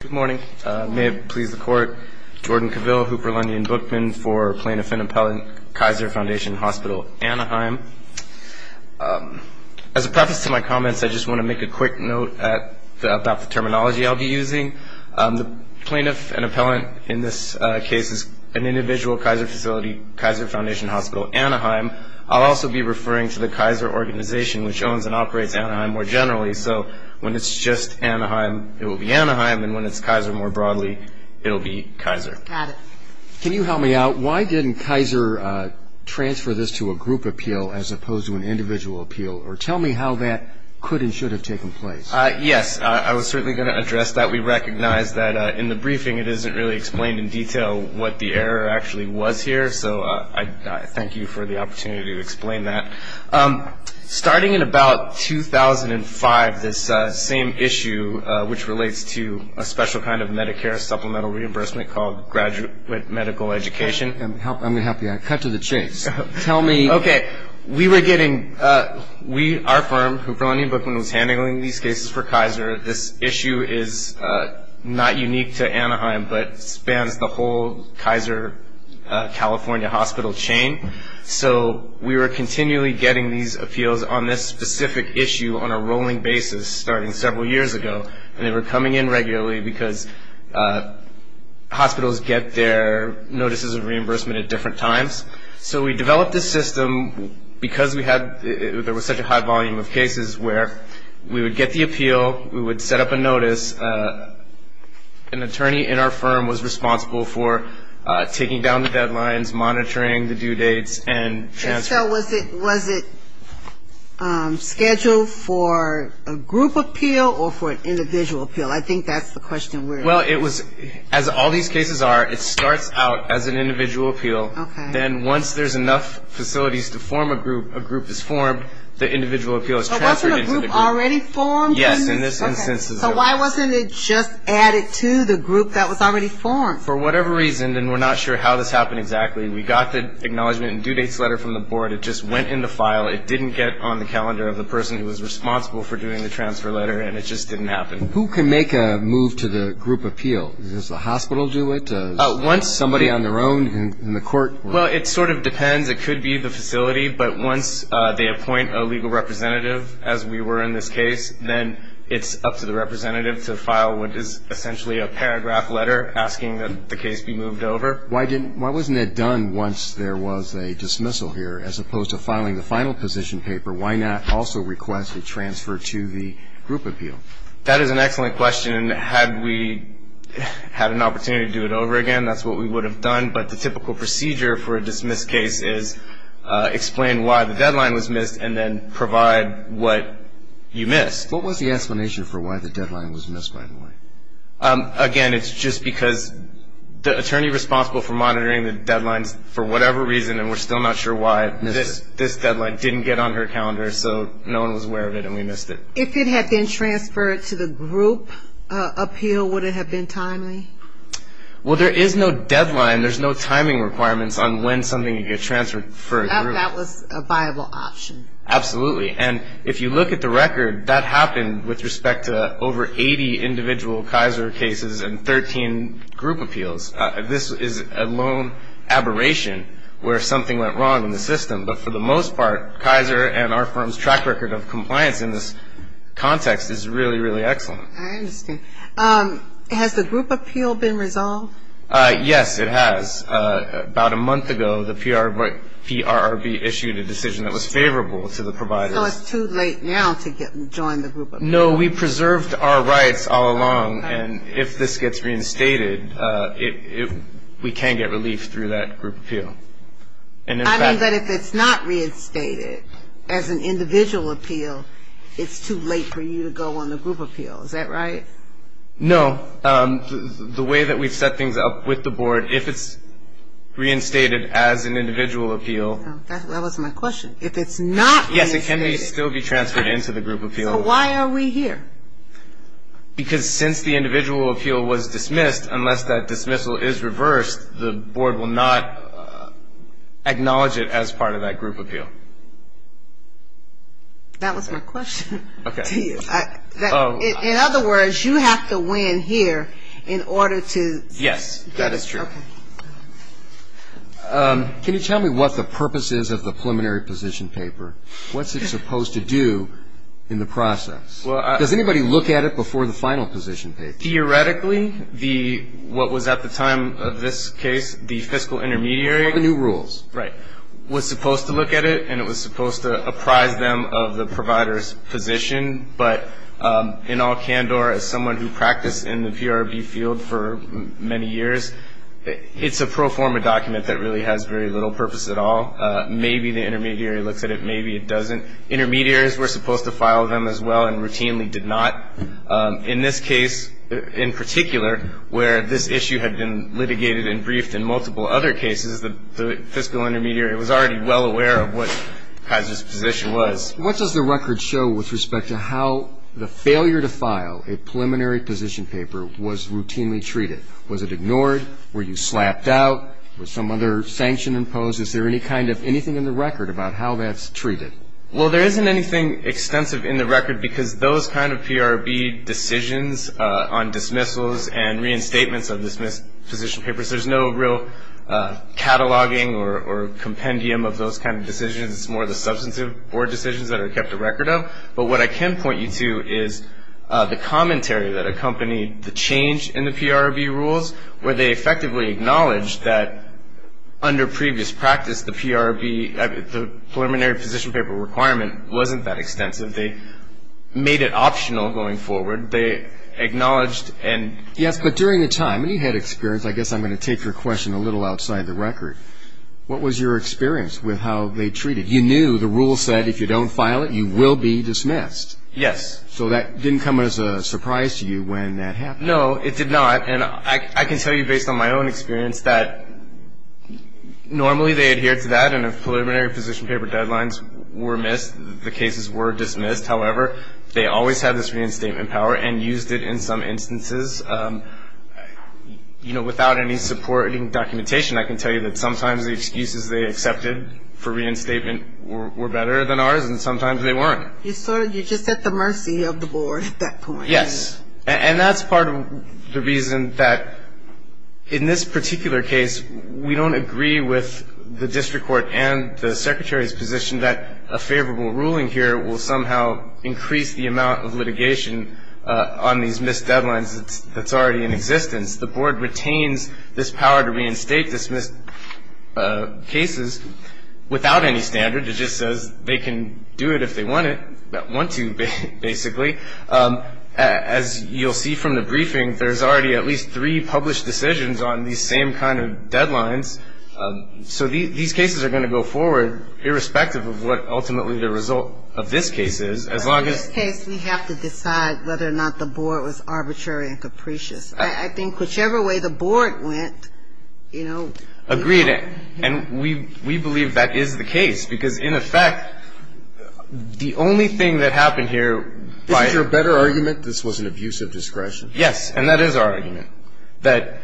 Good morning. May it please the Court, Jordan Cavill, Hooper, Lundy, and Bookman for Plaintiff and Appellant, Kaiser Foundation Hospital, Anaheim. As a preface to my comments, I just want to make a quick note about the terminology I'll be using. The plaintiff and appellant in this case is an individual, Kaiser Facility, Kaiser Foundation Hospital, Anaheim. I'll also be referring to the Kaiser organization, which owns and operates Anaheim more generally. So when it's just Anaheim, it will be Anaheim, and when it's Kaiser more broadly, it will be Kaiser. Got it. Can you help me out? Why didn't Kaiser transfer this to a group appeal as opposed to an individual appeal? Or tell me how that could and should have taken place. Yes, I was certainly going to address that. We recognize that in the briefing it isn't really explained in detail what the error actually was here, so I thank you for the opportunity to explain that. Starting in about 2005, this same issue, which relates to a special kind of Medicare supplemental reimbursement called graduate medical education. I'm going to have to cut to the chase. Tell me. Okay. We were getting, our firm, Hooper-Lonnie Bookman, was handling these cases for Kaiser. This issue is not unique to Anaheim, but spans the whole Kaiser California hospital chain. So we were continually getting these appeals on this specific issue on a rolling basis starting several years ago, and they were coming in regularly because hospitals get their notices of reimbursement at different times. So we developed this system because we had, there was such a high volume of cases where we would get the appeal, we would set up a notice. An attorney in our firm was responsible for taking down the deadlines, monitoring the due dates, and transferring. So was it scheduled for a group appeal or for an individual appeal? I think that's the question. Well, it was, as all these cases are, it starts out as an individual appeal. Okay. Then once there's enough facilities to form a group, a group is formed. The individual appeal is transferred into the group. So wasn't a group already formed? Yes, in this instance. So why wasn't it just added to the group that was already formed? For whatever reason, and we're not sure how this happened exactly, we got the acknowledgment and due dates letter from the board. It just went in the file. It didn't get on the calendar of the person who was responsible for doing the transfer letter, and it just didn't happen. Who can make a move to the group appeal? Does the hospital do it? Somebody on their own in the court? Well, it sort of depends. It could be the facility. But once they appoint a legal representative, as we were in this case, then it's up to the representative to file what is essentially a paragraph letter asking that the case be moved over. Why wasn't it done once there was a dismissal here? As opposed to filing the final position paper, why not also request a transfer to the group appeal? That is an excellent question. Had we had an opportunity to do it over again, that's what we would have done. But the typical procedure for a dismissed case is explain why the deadline was missed and then provide what you missed. What was the explanation for why the deadline was missed, by the way? Again, it's just because the attorney responsible for monitoring the deadlines, for whatever reason, and we're still not sure why this deadline didn't get on her calendar, so no one was aware of it and we missed it. If it had been transferred to the group appeal, would it have been timely? Well, there is no deadline. There's no timing requirements on when something could get transferred for a group. That was a viable option. Absolutely. And if you look at the record, that happened with respect to over 80 individual Kaiser cases and 13 group appeals. This is a lone aberration where something went wrong in the system. But for the most part, Kaiser and our firm's track record of compliance in this context is really, really excellent. I understand. Has the group appeal been resolved? Yes, it has. About a month ago, the PRRB issued a decision that was favorable to the providers. So it's too late now to join the group appeal? No, we preserved our rights all along, and if this gets reinstated, we can get relief through that group appeal. I mean, but if it's not reinstated as an individual appeal, it's too late for you to go on the group appeal. Is that right? No. The way that we've set things up with the board, if it's reinstated as an individual appeal. That was my question. If it's not reinstated. Yes, it can still be transferred into the group appeal. So why are we here? Because since the individual appeal was dismissed, unless that dismissal is reversed, the board will not acknowledge it as part of that group appeal. That was my question. Okay. In other words, you have to win here in order to get it. Yes, that is true. Okay. Can you tell me what the purpose is of the preliminary position paper? What's it supposed to do in the process? Does anybody look at it before the final position paper? Theoretically, what was at the time of this case, the fiscal intermediary. One of the new rules. Right. It was supposed to look at it, and it was supposed to apprise them of the provider's position. But in all candor, as someone who practiced in the PRB field for many years, it's a pro forma document that really has very little purpose at all. Maybe the intermediary looks at it, maybe it doesn't. Intermediaries were supposed to file them as well and routinely did not. In this case in particular, where this issue had been litigated and briefed in multiple other cases, the fiscal intermediary was already well aware of what Kaiser's position was. What does the record show with respect to how the failure to file a preliminary position paper was routinely treated? Was it ignored? Were you slapped out? Was some other sanction imposed? Is there any kind of anything in the record about how that's treated? Well, there isn't anything extensive in the record because those kind of PRB decisions on dismissals and reinstatements of dismissed position papers, there's no real cataloging or compendium of those kind of decisions. It's more the substantive board decisions that are kept a record of. But what I can point you to is the commentary that accompanied the change in the PRB rules where they effectively acknowledged that under previous practice, the PRB, the preliminary position paper requirement wasn't that extensive. They made it optional going forward. They acknowledged and- Yes, but during the time, you had experience. I guess I'm going to take your question a little outside the record. What was your experience with how they treated? You knew the rule said if you don't file it, you will be dismissed. Yes. So that didn't come as a surprise to you when that happened. No, it did not. And I can tell you based on my own experience that normally they adhere to that and if preliminary position paper deadlines were missed, the cases were dismissed. However, they always had this reinstatement power and used it in some instances. You know, without any supporting documentation, I can tell you that sometimes the excuses they accepted for reinstatement were better than ours, and sometimes they weren't. You're just at the mercy of the board at that point. Yes. And that's part of the reason that in this particular case, we don't agree with the district court and the secretary's position that a favorable ruling here will somehow increase the amount of litigation on these missed deadlines that's already in existence. The board retains this power to reinstate dismissed cases without any standard. It just says they can do it if they want to, basically. As you'll see from the briefing, there's already at least three published decisions on these same kind of deadlines. So these cases are going to go forward irrespective of what ultimately the result of this case is, as long as In this case, we have to decide whether or not the board was arbitrary and capricious. I think whichever way the board went, you know, Agreed. And we believe that is the case, because in effect, the only thing that happened here Isn't your better argument this was an abuse of discretion? Yes. And that is our argument, that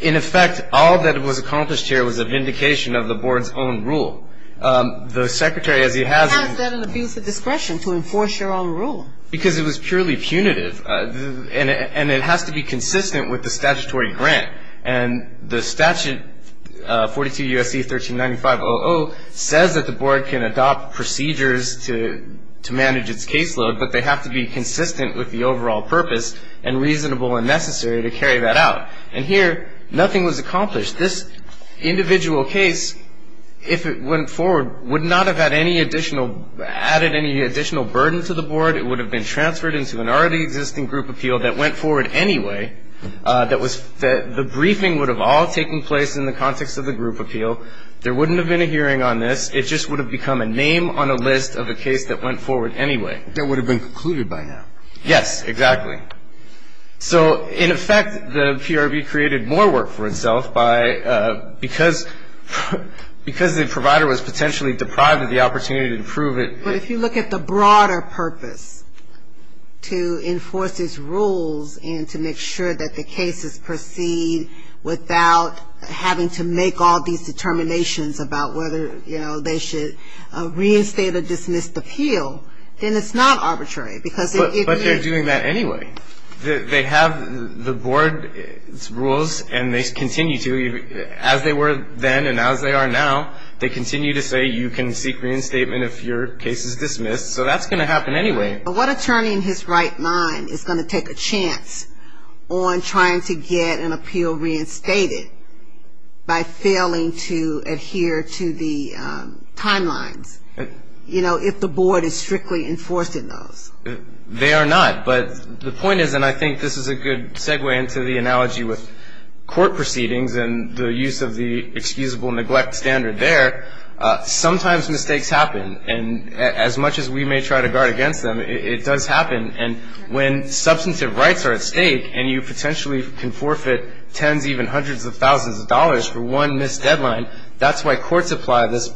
in effect, all that was accomplished here was a vindication of the board's own rule. The secretary, as he has How is that an abuse of discretion to enforce your own rule? Because it was purely punitive. And it has to be consistent with the statutory grant. And the statute, 42 U.S.C. 1395-00, says that the board can adopt procedures to manage its caseload, But they have to be consistent with the overall purpose and reasonable and necessary to carry that out. And here, nothing was accomplished. This individual case, if it went forward, would not have added any additional burden to the board. It would have been transferred into an already existing group appeal that went forward anyway. The briefing would have all taken place in the context of the group appeal. There wouldn't have been a hearing on this. It just would have become a name on a list of a case that went forward anyway. That would have been concluded by now. Yes, exactly. So, in effect, the PRB created more work for itself because the provider was potentially deprived of the opportunity to prove it. But if you look at the broader purpose to enforce these rules and to make sure that the cases proceed without having to make all these determinations about whether they should reinstate or dismiss the appeal, then it's not arbitrary. But they're doing that anyway. They have the board's rules and they continue to, as they were then and as they are now, they continue to say you can seek reinstatement if your case is dismissed. So that's going to happen anyway. What attorney in his right mind is going to take a chance on trying to get an appeal reinstated by failing to adhere to the timelines, you know, if the board is strictly enforcing those? They are not. But the point is, and I think this is a good segue into the analogy with court proceedings and the use of the excusable neglect standard there, sometimes mistakes happen. And as much as we may try to guard against them, it does happen. And when substantive rights are at stake and you potentially can forfeit tens, even hundreds of thousands of dollars for one missed deadline, that's why courts apply this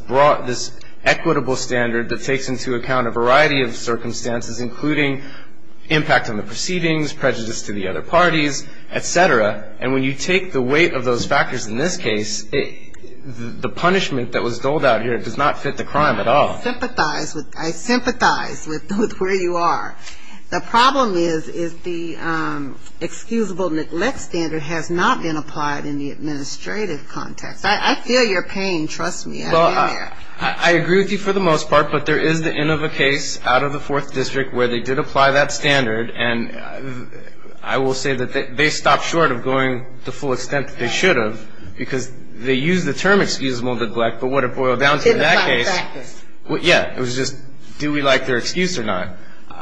equitable standard that takes into account a variety of circumstances, including impact on the proceedings, prejudice to the other parties, et cetera. And when you take the weight of those factors in this case, the punishment that was doled out here does not fit the crime at all. I sympathize with where you are. The problem is, is the excusable neglect standard has not been applied in the administrative context. I feel your pain. Trust me. I agree with you for the most part, but there is the end of a case out of the Fourth District where they did apply that standard. And I will say that they stopped short of going to the full extent that they should have because they used the term excusable neglect, but what it boiled down to in that case. They didn't apply the practice. Yeah. It was just do we like their excuse or not.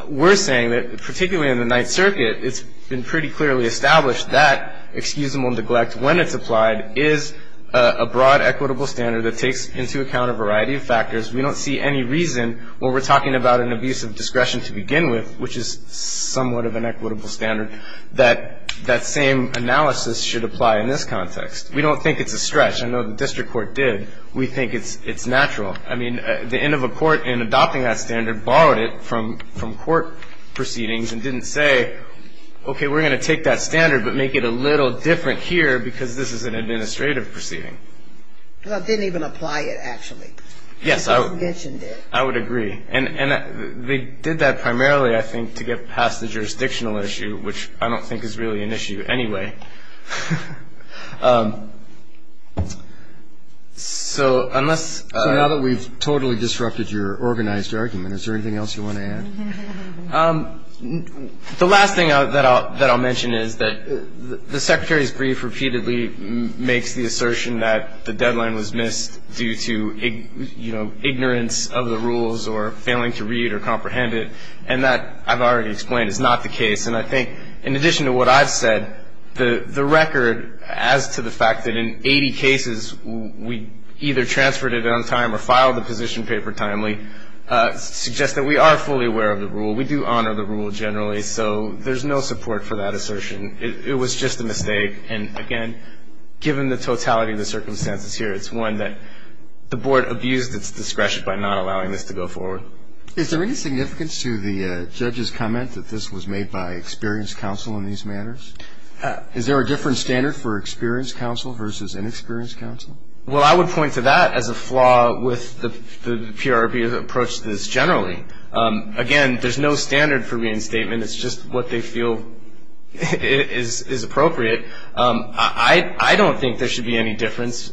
We're saying that, particularly in the Ninth Circuit, it's been pretty clearly established that excusable neglect, when it's applied, is a broad equitable standard that takes into account a variety of factors. We don't see any reason when we're talking about an abuse of discretion to begin with, which is somewhat of an equitable standard, that that same analysis should apply in this context. We don't think it's a stretch. I know the district court did. We think it's natural. I mean, the end of a court in adopting that standard borrowed it from court proceedings and didn't say, okay, we're going to take that standard but make it a little different here because this is an administrative proceeding. Well, it didn't even apply it, actually. Yes, I would agree. And they did that primarily, I think, to get past the jurisdictional issue, which I don't think is really an issue anyway. So unless we've totally disrupted your organized argument, is there anything else you want to add? The last thing that I'll mention is that the Secretary's brief repeatedly makes the assertion that the deadline was missed due to ignorance of the rules or failing to read or comprehend it. And that, I've already explained, is not the case. And I think in addition to what I've said, the record as to the fact that in 80 cases, we either transferred it on time or filed the position paper timely, suggests that we are fully aware of the rule. We do honor the rule generally. So there's no support for that assertion. It was just a mistake. And, again, given the totality of the circumstances here, it's one that the Board abused its discretion by not allowing this to go forward. Is there any significance to the judge's comment that this was made by experienced counsel in these matters? Is there a different standard for experienced counsel versus inexperienced counsel? Well, I would point to that as a flaw with the PRB's approach to this generally. Again, there's no standard for reinstatement. It's just what they feel is appropriate. I don't think there should be any difference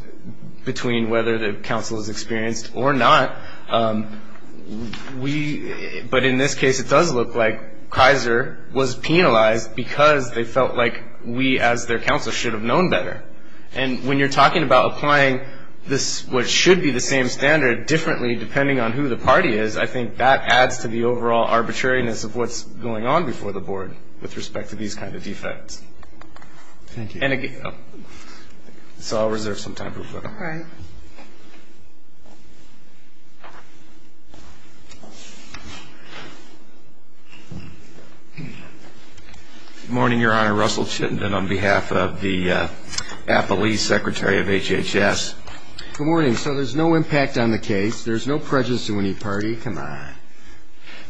between whether the counsel is experienced or not. But in this case, it does look like Kaiser was penalized because they felt like we, as their counsel, should have known better. And when you're talking about applying what should be the same standard differently depending on who the party is, I think that adds to the overall arbitrariness of what's going on before the Board with respect to these kind of defects. Thank you. So I'll reserve some time for further comment. All right. Good morning, Your Honor. Russell Chittenden on behalf of the Appalese Secretary of HHS. Good morning. So there's no impact on the case. There's no prejudice to any party. Come on.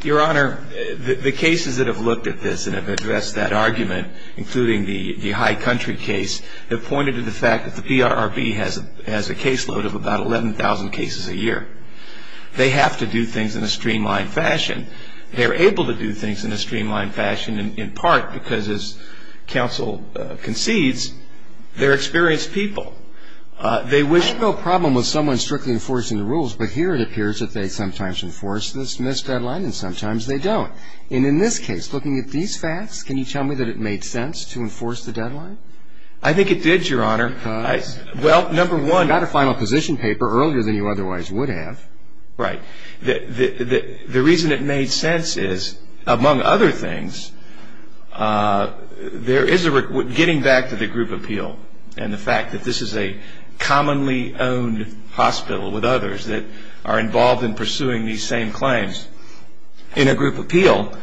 Your Honor, the cases that have looked at this and have addressed that argument, including the high country case, have pointed to the fact that the PRB has a caseload of about 11,000 cases a year. They have to do things in a streamlined fashion. They are able to do things in a streamlined fashion in part because, as counsel concedes, they're experienced people. I have no problem with someone strictly enforcing the rules, but here it appears that they sometimes enforce this missed deadline and sometimes they don't. And in this case, looking at these facts, can you tell me that it made sense to enforce the deadline? I think it did, Your Honor. Because? Well, number one. You got a final position paper earlier than you otherwise would have. Right. The reason it made sense is, among other things, there is a getting back to the group appeal and the fact that this is a commonly owned hospital with others that are involved in pursuing these same claims. In a group appeal,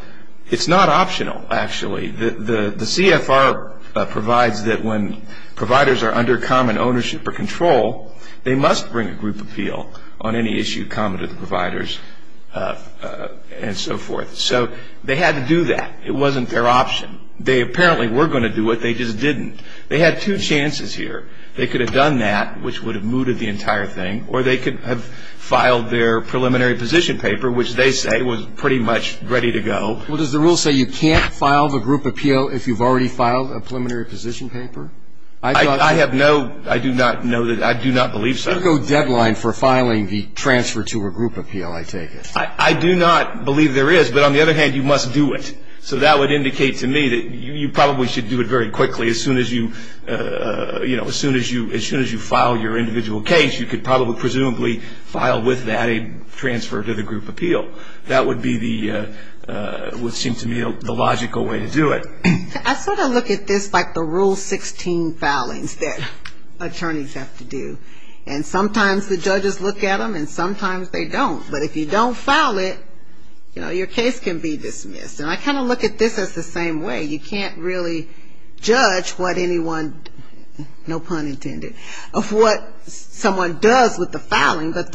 it's not optional, actually. The CFR provides that when providers are under common ownership or control, they must bring a group appeal on any issue common to the providers and so forth. So they had to do that. It wasn't their option. They apparently were going to do it. They just didn't. They had two chances here. They could have done that, which would have mooted the entire thing, or they could have filed their preliminary position paper, which they say was pretty much ready to go. Well, does the rule say you can't file the group appeal if you've already filed a preliminary position paper? I have no, I do not know, I do not believe so. There's no deadline for filing the transfer to a group appeal, I take it. I do not believe there is. But on the other hand, you must do it. So that would indicate to me that you probably should do it very quickly. As soon as you, you know, as soon as you file your individual case, you could probably presumably file with that a transfer to the group appeal. That would be the, would seem to me the logical way to do it. I sort of look at this like the Rule 16 filings that attorneys have to do. And sometimes the judges look at them, and sometimes they don't. But if you don't file it, you know, your case can be dismissed. And I kind of look at this as the same way. You can't really judge what anyone, no pun intended, of what someone does with the filing. But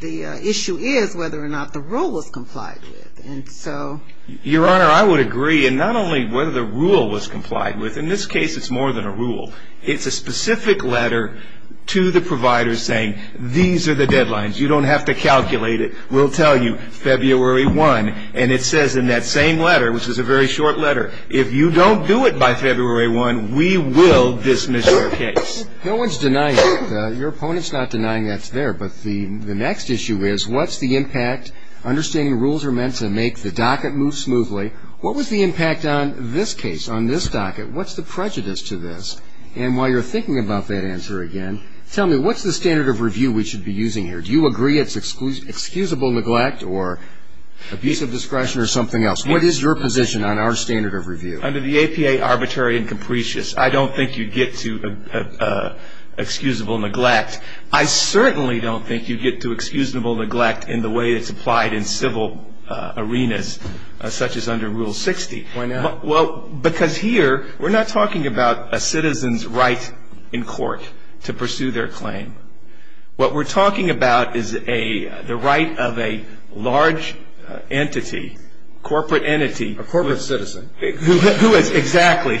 the issue is whether or not the rule was complied with. And so. Your Honor, I would agree. And not only whether the rule was complied with. In this case, it's more than a rule. It's a specific letter to the provider saying these are the deadlines. You don't have to calculate it. We'll tell you February 1. And it says in that same letter, which is a very short letter, if you don't do it by February 1, we will dismiss your case. No one's denying it. Your opponent's not denying that's there. But the next issue is what's the impact? Understanding rules are meant to make the docket move smoothly. What was the impact on this case, on this docket? What's the prejudice to this? And while you're thinking about that answer again, tell me what's the standard of review we should be using here? Do you agree it's excusable neglect or abusive discretion or something else? What is your position on our standard of review? Under the APA, arbitrary and capricious. I don't think you get to excusable neglect. I certainly don't think you get to excusable neglect in the way it's applied in civil arenas, such as under Rule 60. Why not? Well, because here we're not talking about a citizen's right in court to pursue their claim. What we're talking about is the right of a large entity, corporate entity. A corporate citizen. Exactly.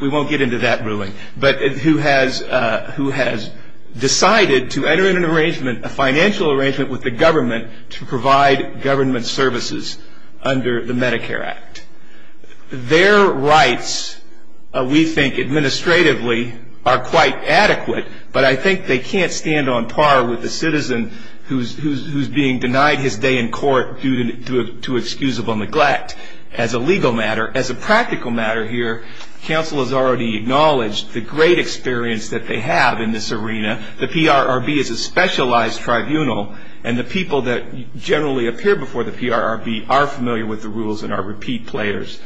We won't get into that ruling. But who has decided to enter in an arrangement, a financial arrangement, with the government to provide government services under the Medicare Act. Their rights, we think, administratively are quite adequate, but I think they can't stand on par with a citizen who's being denied his day in court due to excusable neglect. As a legal matter, as a practical matter here, counsel has already acknowledged the great experience that they have in this arena. The PRRB is a specialized tribunal, and the people that generally appear before the PRRB are familiar with the rules and are repeat players.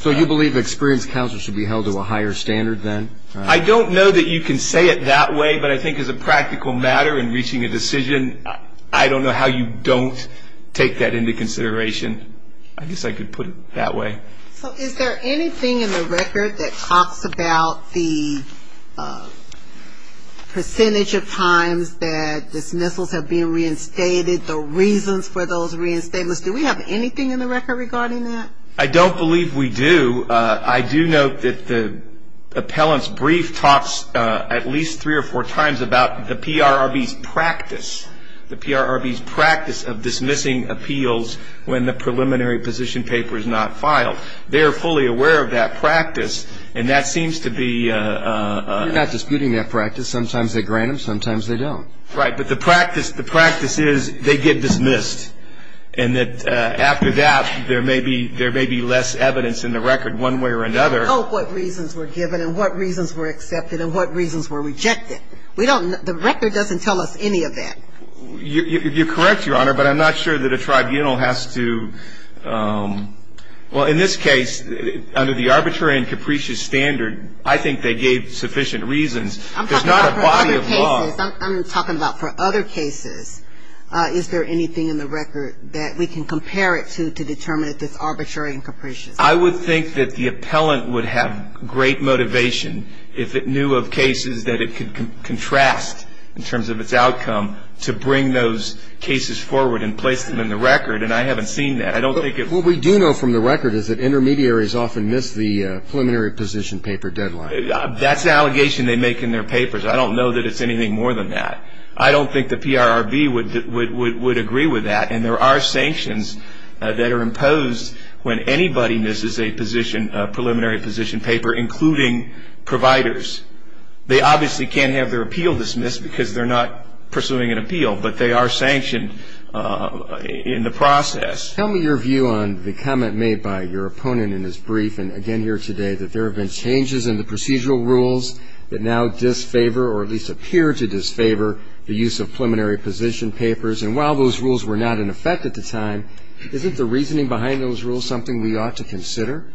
So you believe experienced counsel should be held to a higher standard then? I don't know that you can say it that way, but I think as a practical matter in reaching a decision, I don't know how you don't take that into consideration. I guess I could put it that way. So is there anything in the record that talks about the percentage of times that dismissals have been reinstated, the reasons for those reinstatements? Do we have anything in the record regarding that? I don't believe we do. I do note that the appellant's brief talks at least three or four times about the PRRB's practice, the PRRB's practice of dismissing appeals when the preliminary position paper is not filed. They are fully aware of that practice, and that seems to be ‑‑ We're not disputing that practice. Sometimes they grant them, sometimes they don't. Right, but the practice is they get dismissed, and that after that there may be less evidence in the record one way or another. We don't know what reasons were given and what reasons were accepted and what reasons were rejected. The record doesn't tell us any of that. You're correct, Your Honor, but I'm not sure that a tribunal has to ‑‑ Well, in this case, under the arbitrary and capricious standard, I think they gave sufficient reasons. There's not a body of law. I'm talking about for other cases. Is there anything in the record that we can compare it to to determine if it's arbitrary and capricious? I would think that the appellant would have great motivation if it knew of cases that it could contrast in terms of its outcome to bring those cases forward and place them in the record, and I haven't seen that. What we do know from the record is that intermediaries often miss the preliminary position paper deadline. That's an allegation they make in their papers. I don't know that it's anything more than that. I don't think the PRRB would agree with that, and there are sanctions that are imposed when anybody misses a preliminary position paper, including providers. They obviously can't have their appeal dismissed because they're not pursuing an appeal, but they are sanctioned in the process. Tell me your view on the comment made by your opponent in his brief and again here today that there have been changes in the procedural rules that now disfavor or at least appear to disfavor the use of preliminary position papers, and while those rules were not in effect at the time, isn't the reasoning behind those rules something we ought to consider?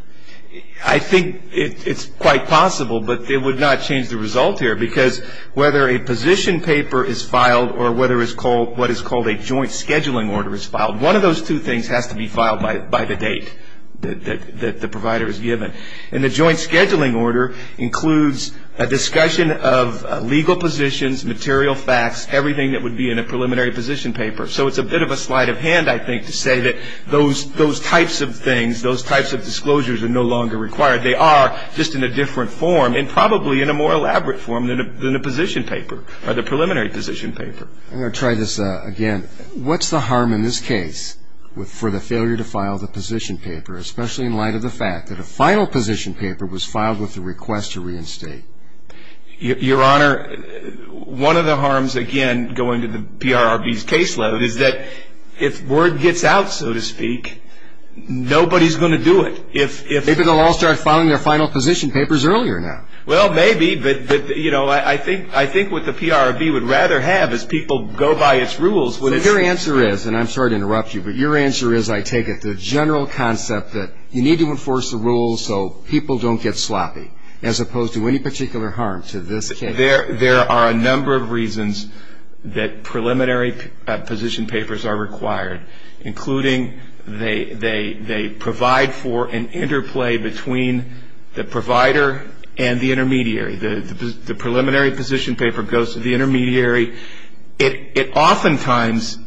I think it's quite possible, but it would not change the result here, because whether a position paper is filed or whether what is called a joint scheduling order is filed, one of those two things has to be filed by the date that the provider is given. And the joint scheduling order includes a discussion of legal positions, material facts, everything that would be in a preliminary position paper. So it's a bit of a sleight of hand, I think, to say that those types of things, those types of disclosures are no longer required. They are just in a different form and probably in a more elaborate form than a position paper or the preliminary position paper. I'm going to try this again. What's the harm in this case for the failure to file the position paper, especially in light of the fact that a final position paper was filed with the request to reinstate? Your Honor, one of the harms, again, going to the PRRB's caseload, is that if word gets out, so to speak, nobody's going to do it. Maybe they'll all start filing their final position papers earlier now. Well, maybe, but, you know, I think what the PRRB would rather have is people go by its rules. So your answer is, and I'm sorry to interrupt you, but your answer is, I take it, the general concept that you need to enforce the rules so people don't get sloppy as opposed to any particular harm to this case. There are a number of reasons that preliminary position papers are required, including they provide for an interplay between the provider and the intermediary. The preliminary position paper goes to the intermediary. It oftentimes,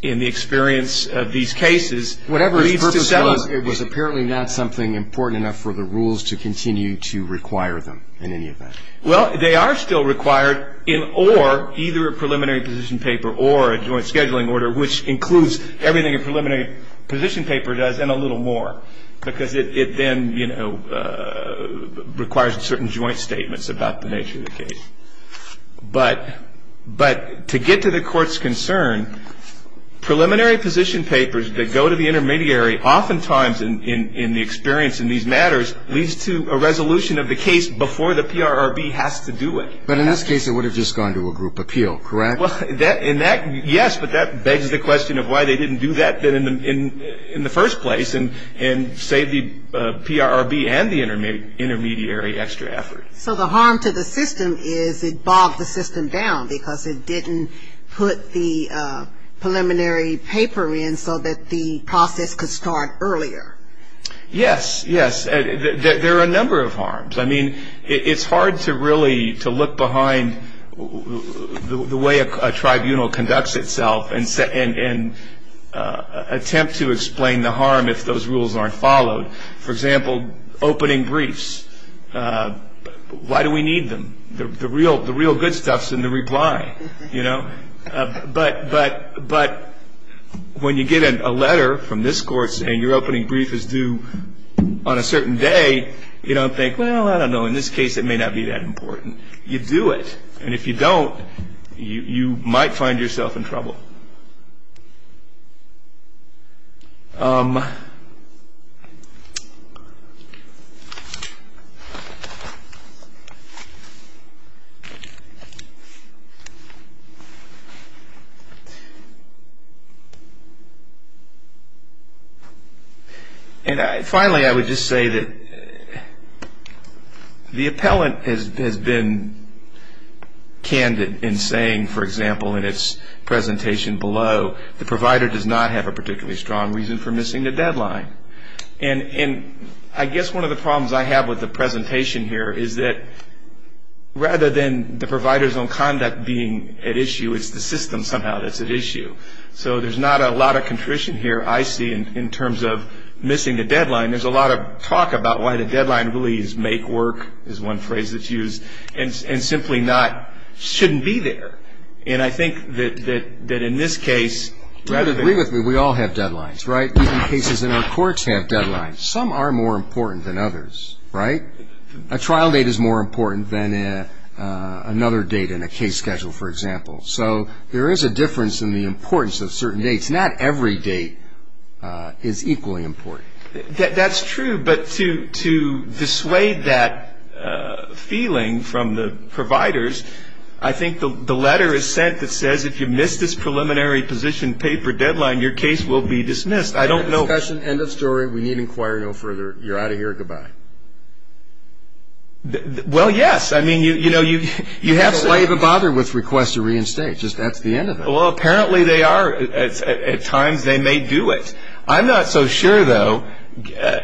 in the experience of these cases, leads to settlement. Whatever its purpose was, it was apparently not something important enough for the rules to continue to require them in any event. Well, they are still required in or either a preliminary position paper or a joint scheduling order, which includes everything a preliminary position paper does and a little more, because it then, you know, requires certain joint statements about the nature of the case. But to get to the Court's concern, preliminary position papers that go to the intermediary oftentimes, in the experience in these matters, leads to a resolution of the case before the PRRB has to do it. But in this case, it would have just gone to a group appeal, correct? Yes, but that begs the question of why they didn't do that in the first place and save the PRRB and the intermediary extra effort. So the harm to the system is it bogged the system down because it didn't put the preliminary paper in so that the process could start earlier. Yes, yes. There are a number of harms. I mean, it's hard to really to look behind the way a tribunal conducts itself and attempt to explain the harm if those rules aren't followed. For example, opening briefs. Why do we need them? The real good stuff is in the reply, you know? But when you get a letter from this Court saying your opening brief is due on a certain day, you don't think, well, I don't know, in this case it may not be that important. You do it. And if you don't, you might find yourself in trouble. Okay. And finally, I would just say that the appellant has been candid in saying, for example, in its presentation below, the provider does not have a particularly strong reason for missing the deadline. And I guess one of the problems I have with the presentation here is that rather than the providers on conduct being at issue, it's the system somehow that's at issue. So there's not a lot of contrition here I see in terms of missing the deadline. There's a lot of talk about why the deadline really is make work is one phrase that's used, and simply not shouldn't be there. And I think that in this case rather than. Read with me. We all have deadlines, right? Even cases in our courts have deadlines. Some are more important than others, right? A trial date is more important than another date in a case schedule, for example. So there is a difference in the importance of certain dates. Not every date is equally important. That's true. But to dissuade that feeling from the providers, I think the letter is sent that says, if you miss this preliminary position paper deadline, your case will be dismissed. I don't know. End of discussion. End of story. We need to inquire no further. You're out of here. Goodbye. Well, yes. I mean, you know, you have to. Why even bother with request to reinstate? Just that's the end of it. Well, apparently they are. At times they may do it. I'm not so sure, though,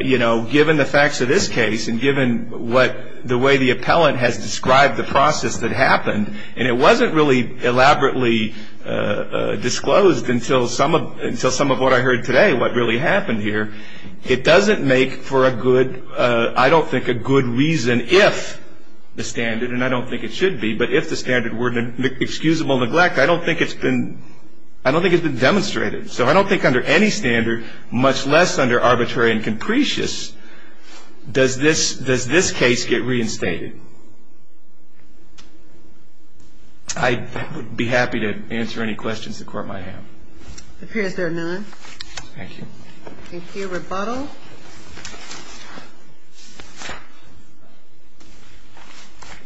you know, given the facts of this case and given what the way the appellant has described the process that happened, and it wasn't really elaborately disclosed until some of what I heard today, what really happened here. It doesn't make for a good, I don't think a good reason if the standard, and I don't think it should be, but if the standard were excusable neglect, I don't think it's been demonstrated. So I don't think under any standard, much less under arbitrary and capricious, does this case get reinstated. I would be happy to answer any questions the Court might have. It appears there are none. Thank you. Thank you. Rebuttal.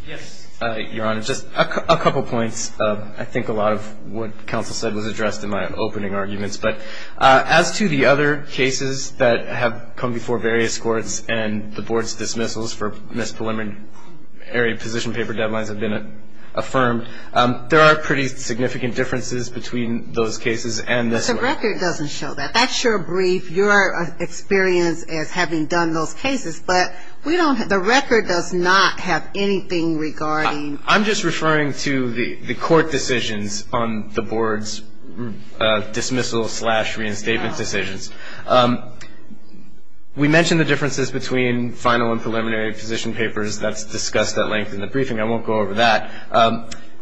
Yes, Your Honor. Just a couple points. I think a lot of what counsel said was addressed in my opening arguments. But as to the other cases that have come before various courts and the Board's dismissals for misdemeanor area position paper deadlines have been affirmed, there are pretty significant differences between those cases and this one. The record doesn't show that. That's your brief, your experience as having done those cases. But we don't have, the record does not have anything regarding. I'm just referring to the Court decisions on the Board's dismissal-slash-reinstatement decisions. We mentioned the differences between final and preliminary position papers that's discussed at length in the briefing. I won't go over that.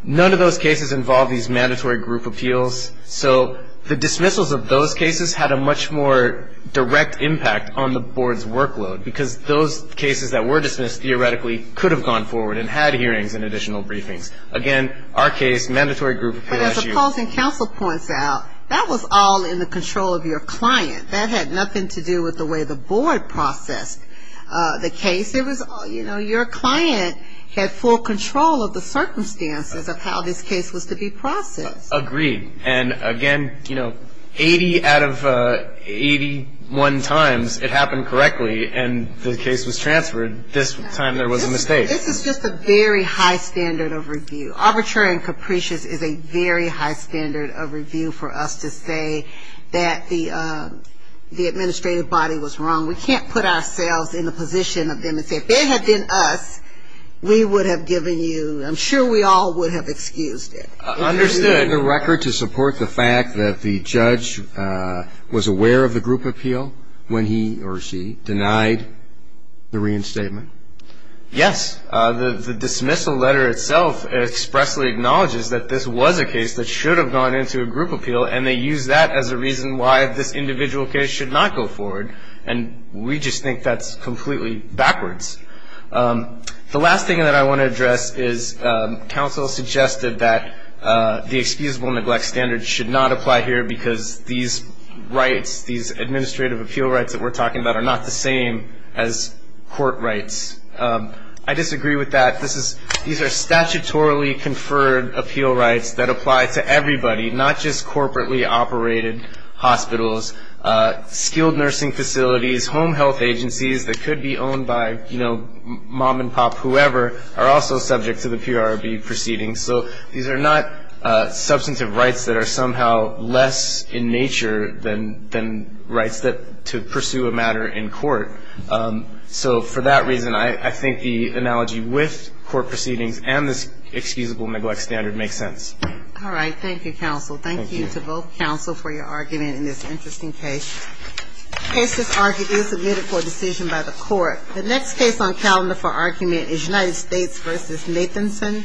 None of those cases involve these mandatory group appeals. So the dismissals of those cases had a much more direct impact on the Board's workload because those cases that were dismissed theoretically could have gone forward and had hearings and additional briefings. Again, our case, mandatory group appeals. But as opposing counsel points out, that was all in the control of your client. That had nothing to do with the way the Board processed the case. It was, you know, your client had full control of the circumstances of how this case was to be processed. Agreed. And, again, you know, 80 out of 81 times it happened correctly and the case was transferred this time there was a mistake. This is just a very high standard of review. Arbitrary and capricious is a very high standard of review for us to say that the administrative body was wrong. We can't put ourselves in the position of them and say if they had been us, we would have given you, I'm sure we all would have excused it. Understood. The record to support the fact that the judge was aware of the group appeal when he or she denied the reinstatement? Yes. The dismissal letter itself expressly acknowledges that this was a case that should have gone into a group appeal and they used that as a reason why this individual case should not go forward. And we just think that's completely backwards. The last thing that I want to address is counsel suggested that the excusable neglect standard should not apply here because these rights, these administrative appeal rights that we're talking about are not the same as court rights. I disagree with that. These are statutorily conferred appeal rights that apply to everybody, not just corporately operated hospitals, skilled nursing facilities, home health agencies that could be owned by, you know, mom and pop, whoever are also subject to the PRB proceedings. So these are not substantive rights that are somehow less in nature than rights to pursue a matter in court. So for that reason, I think the analogy with court proceedings and this excusable neglect standard makes sense. All right. Thank you, counsel. Thank you. Thank you to both counsel for your argument in this interesting case. The case that's argued is submitted for decision by the court. The next case on calendar for argument is United States v. Nathanson.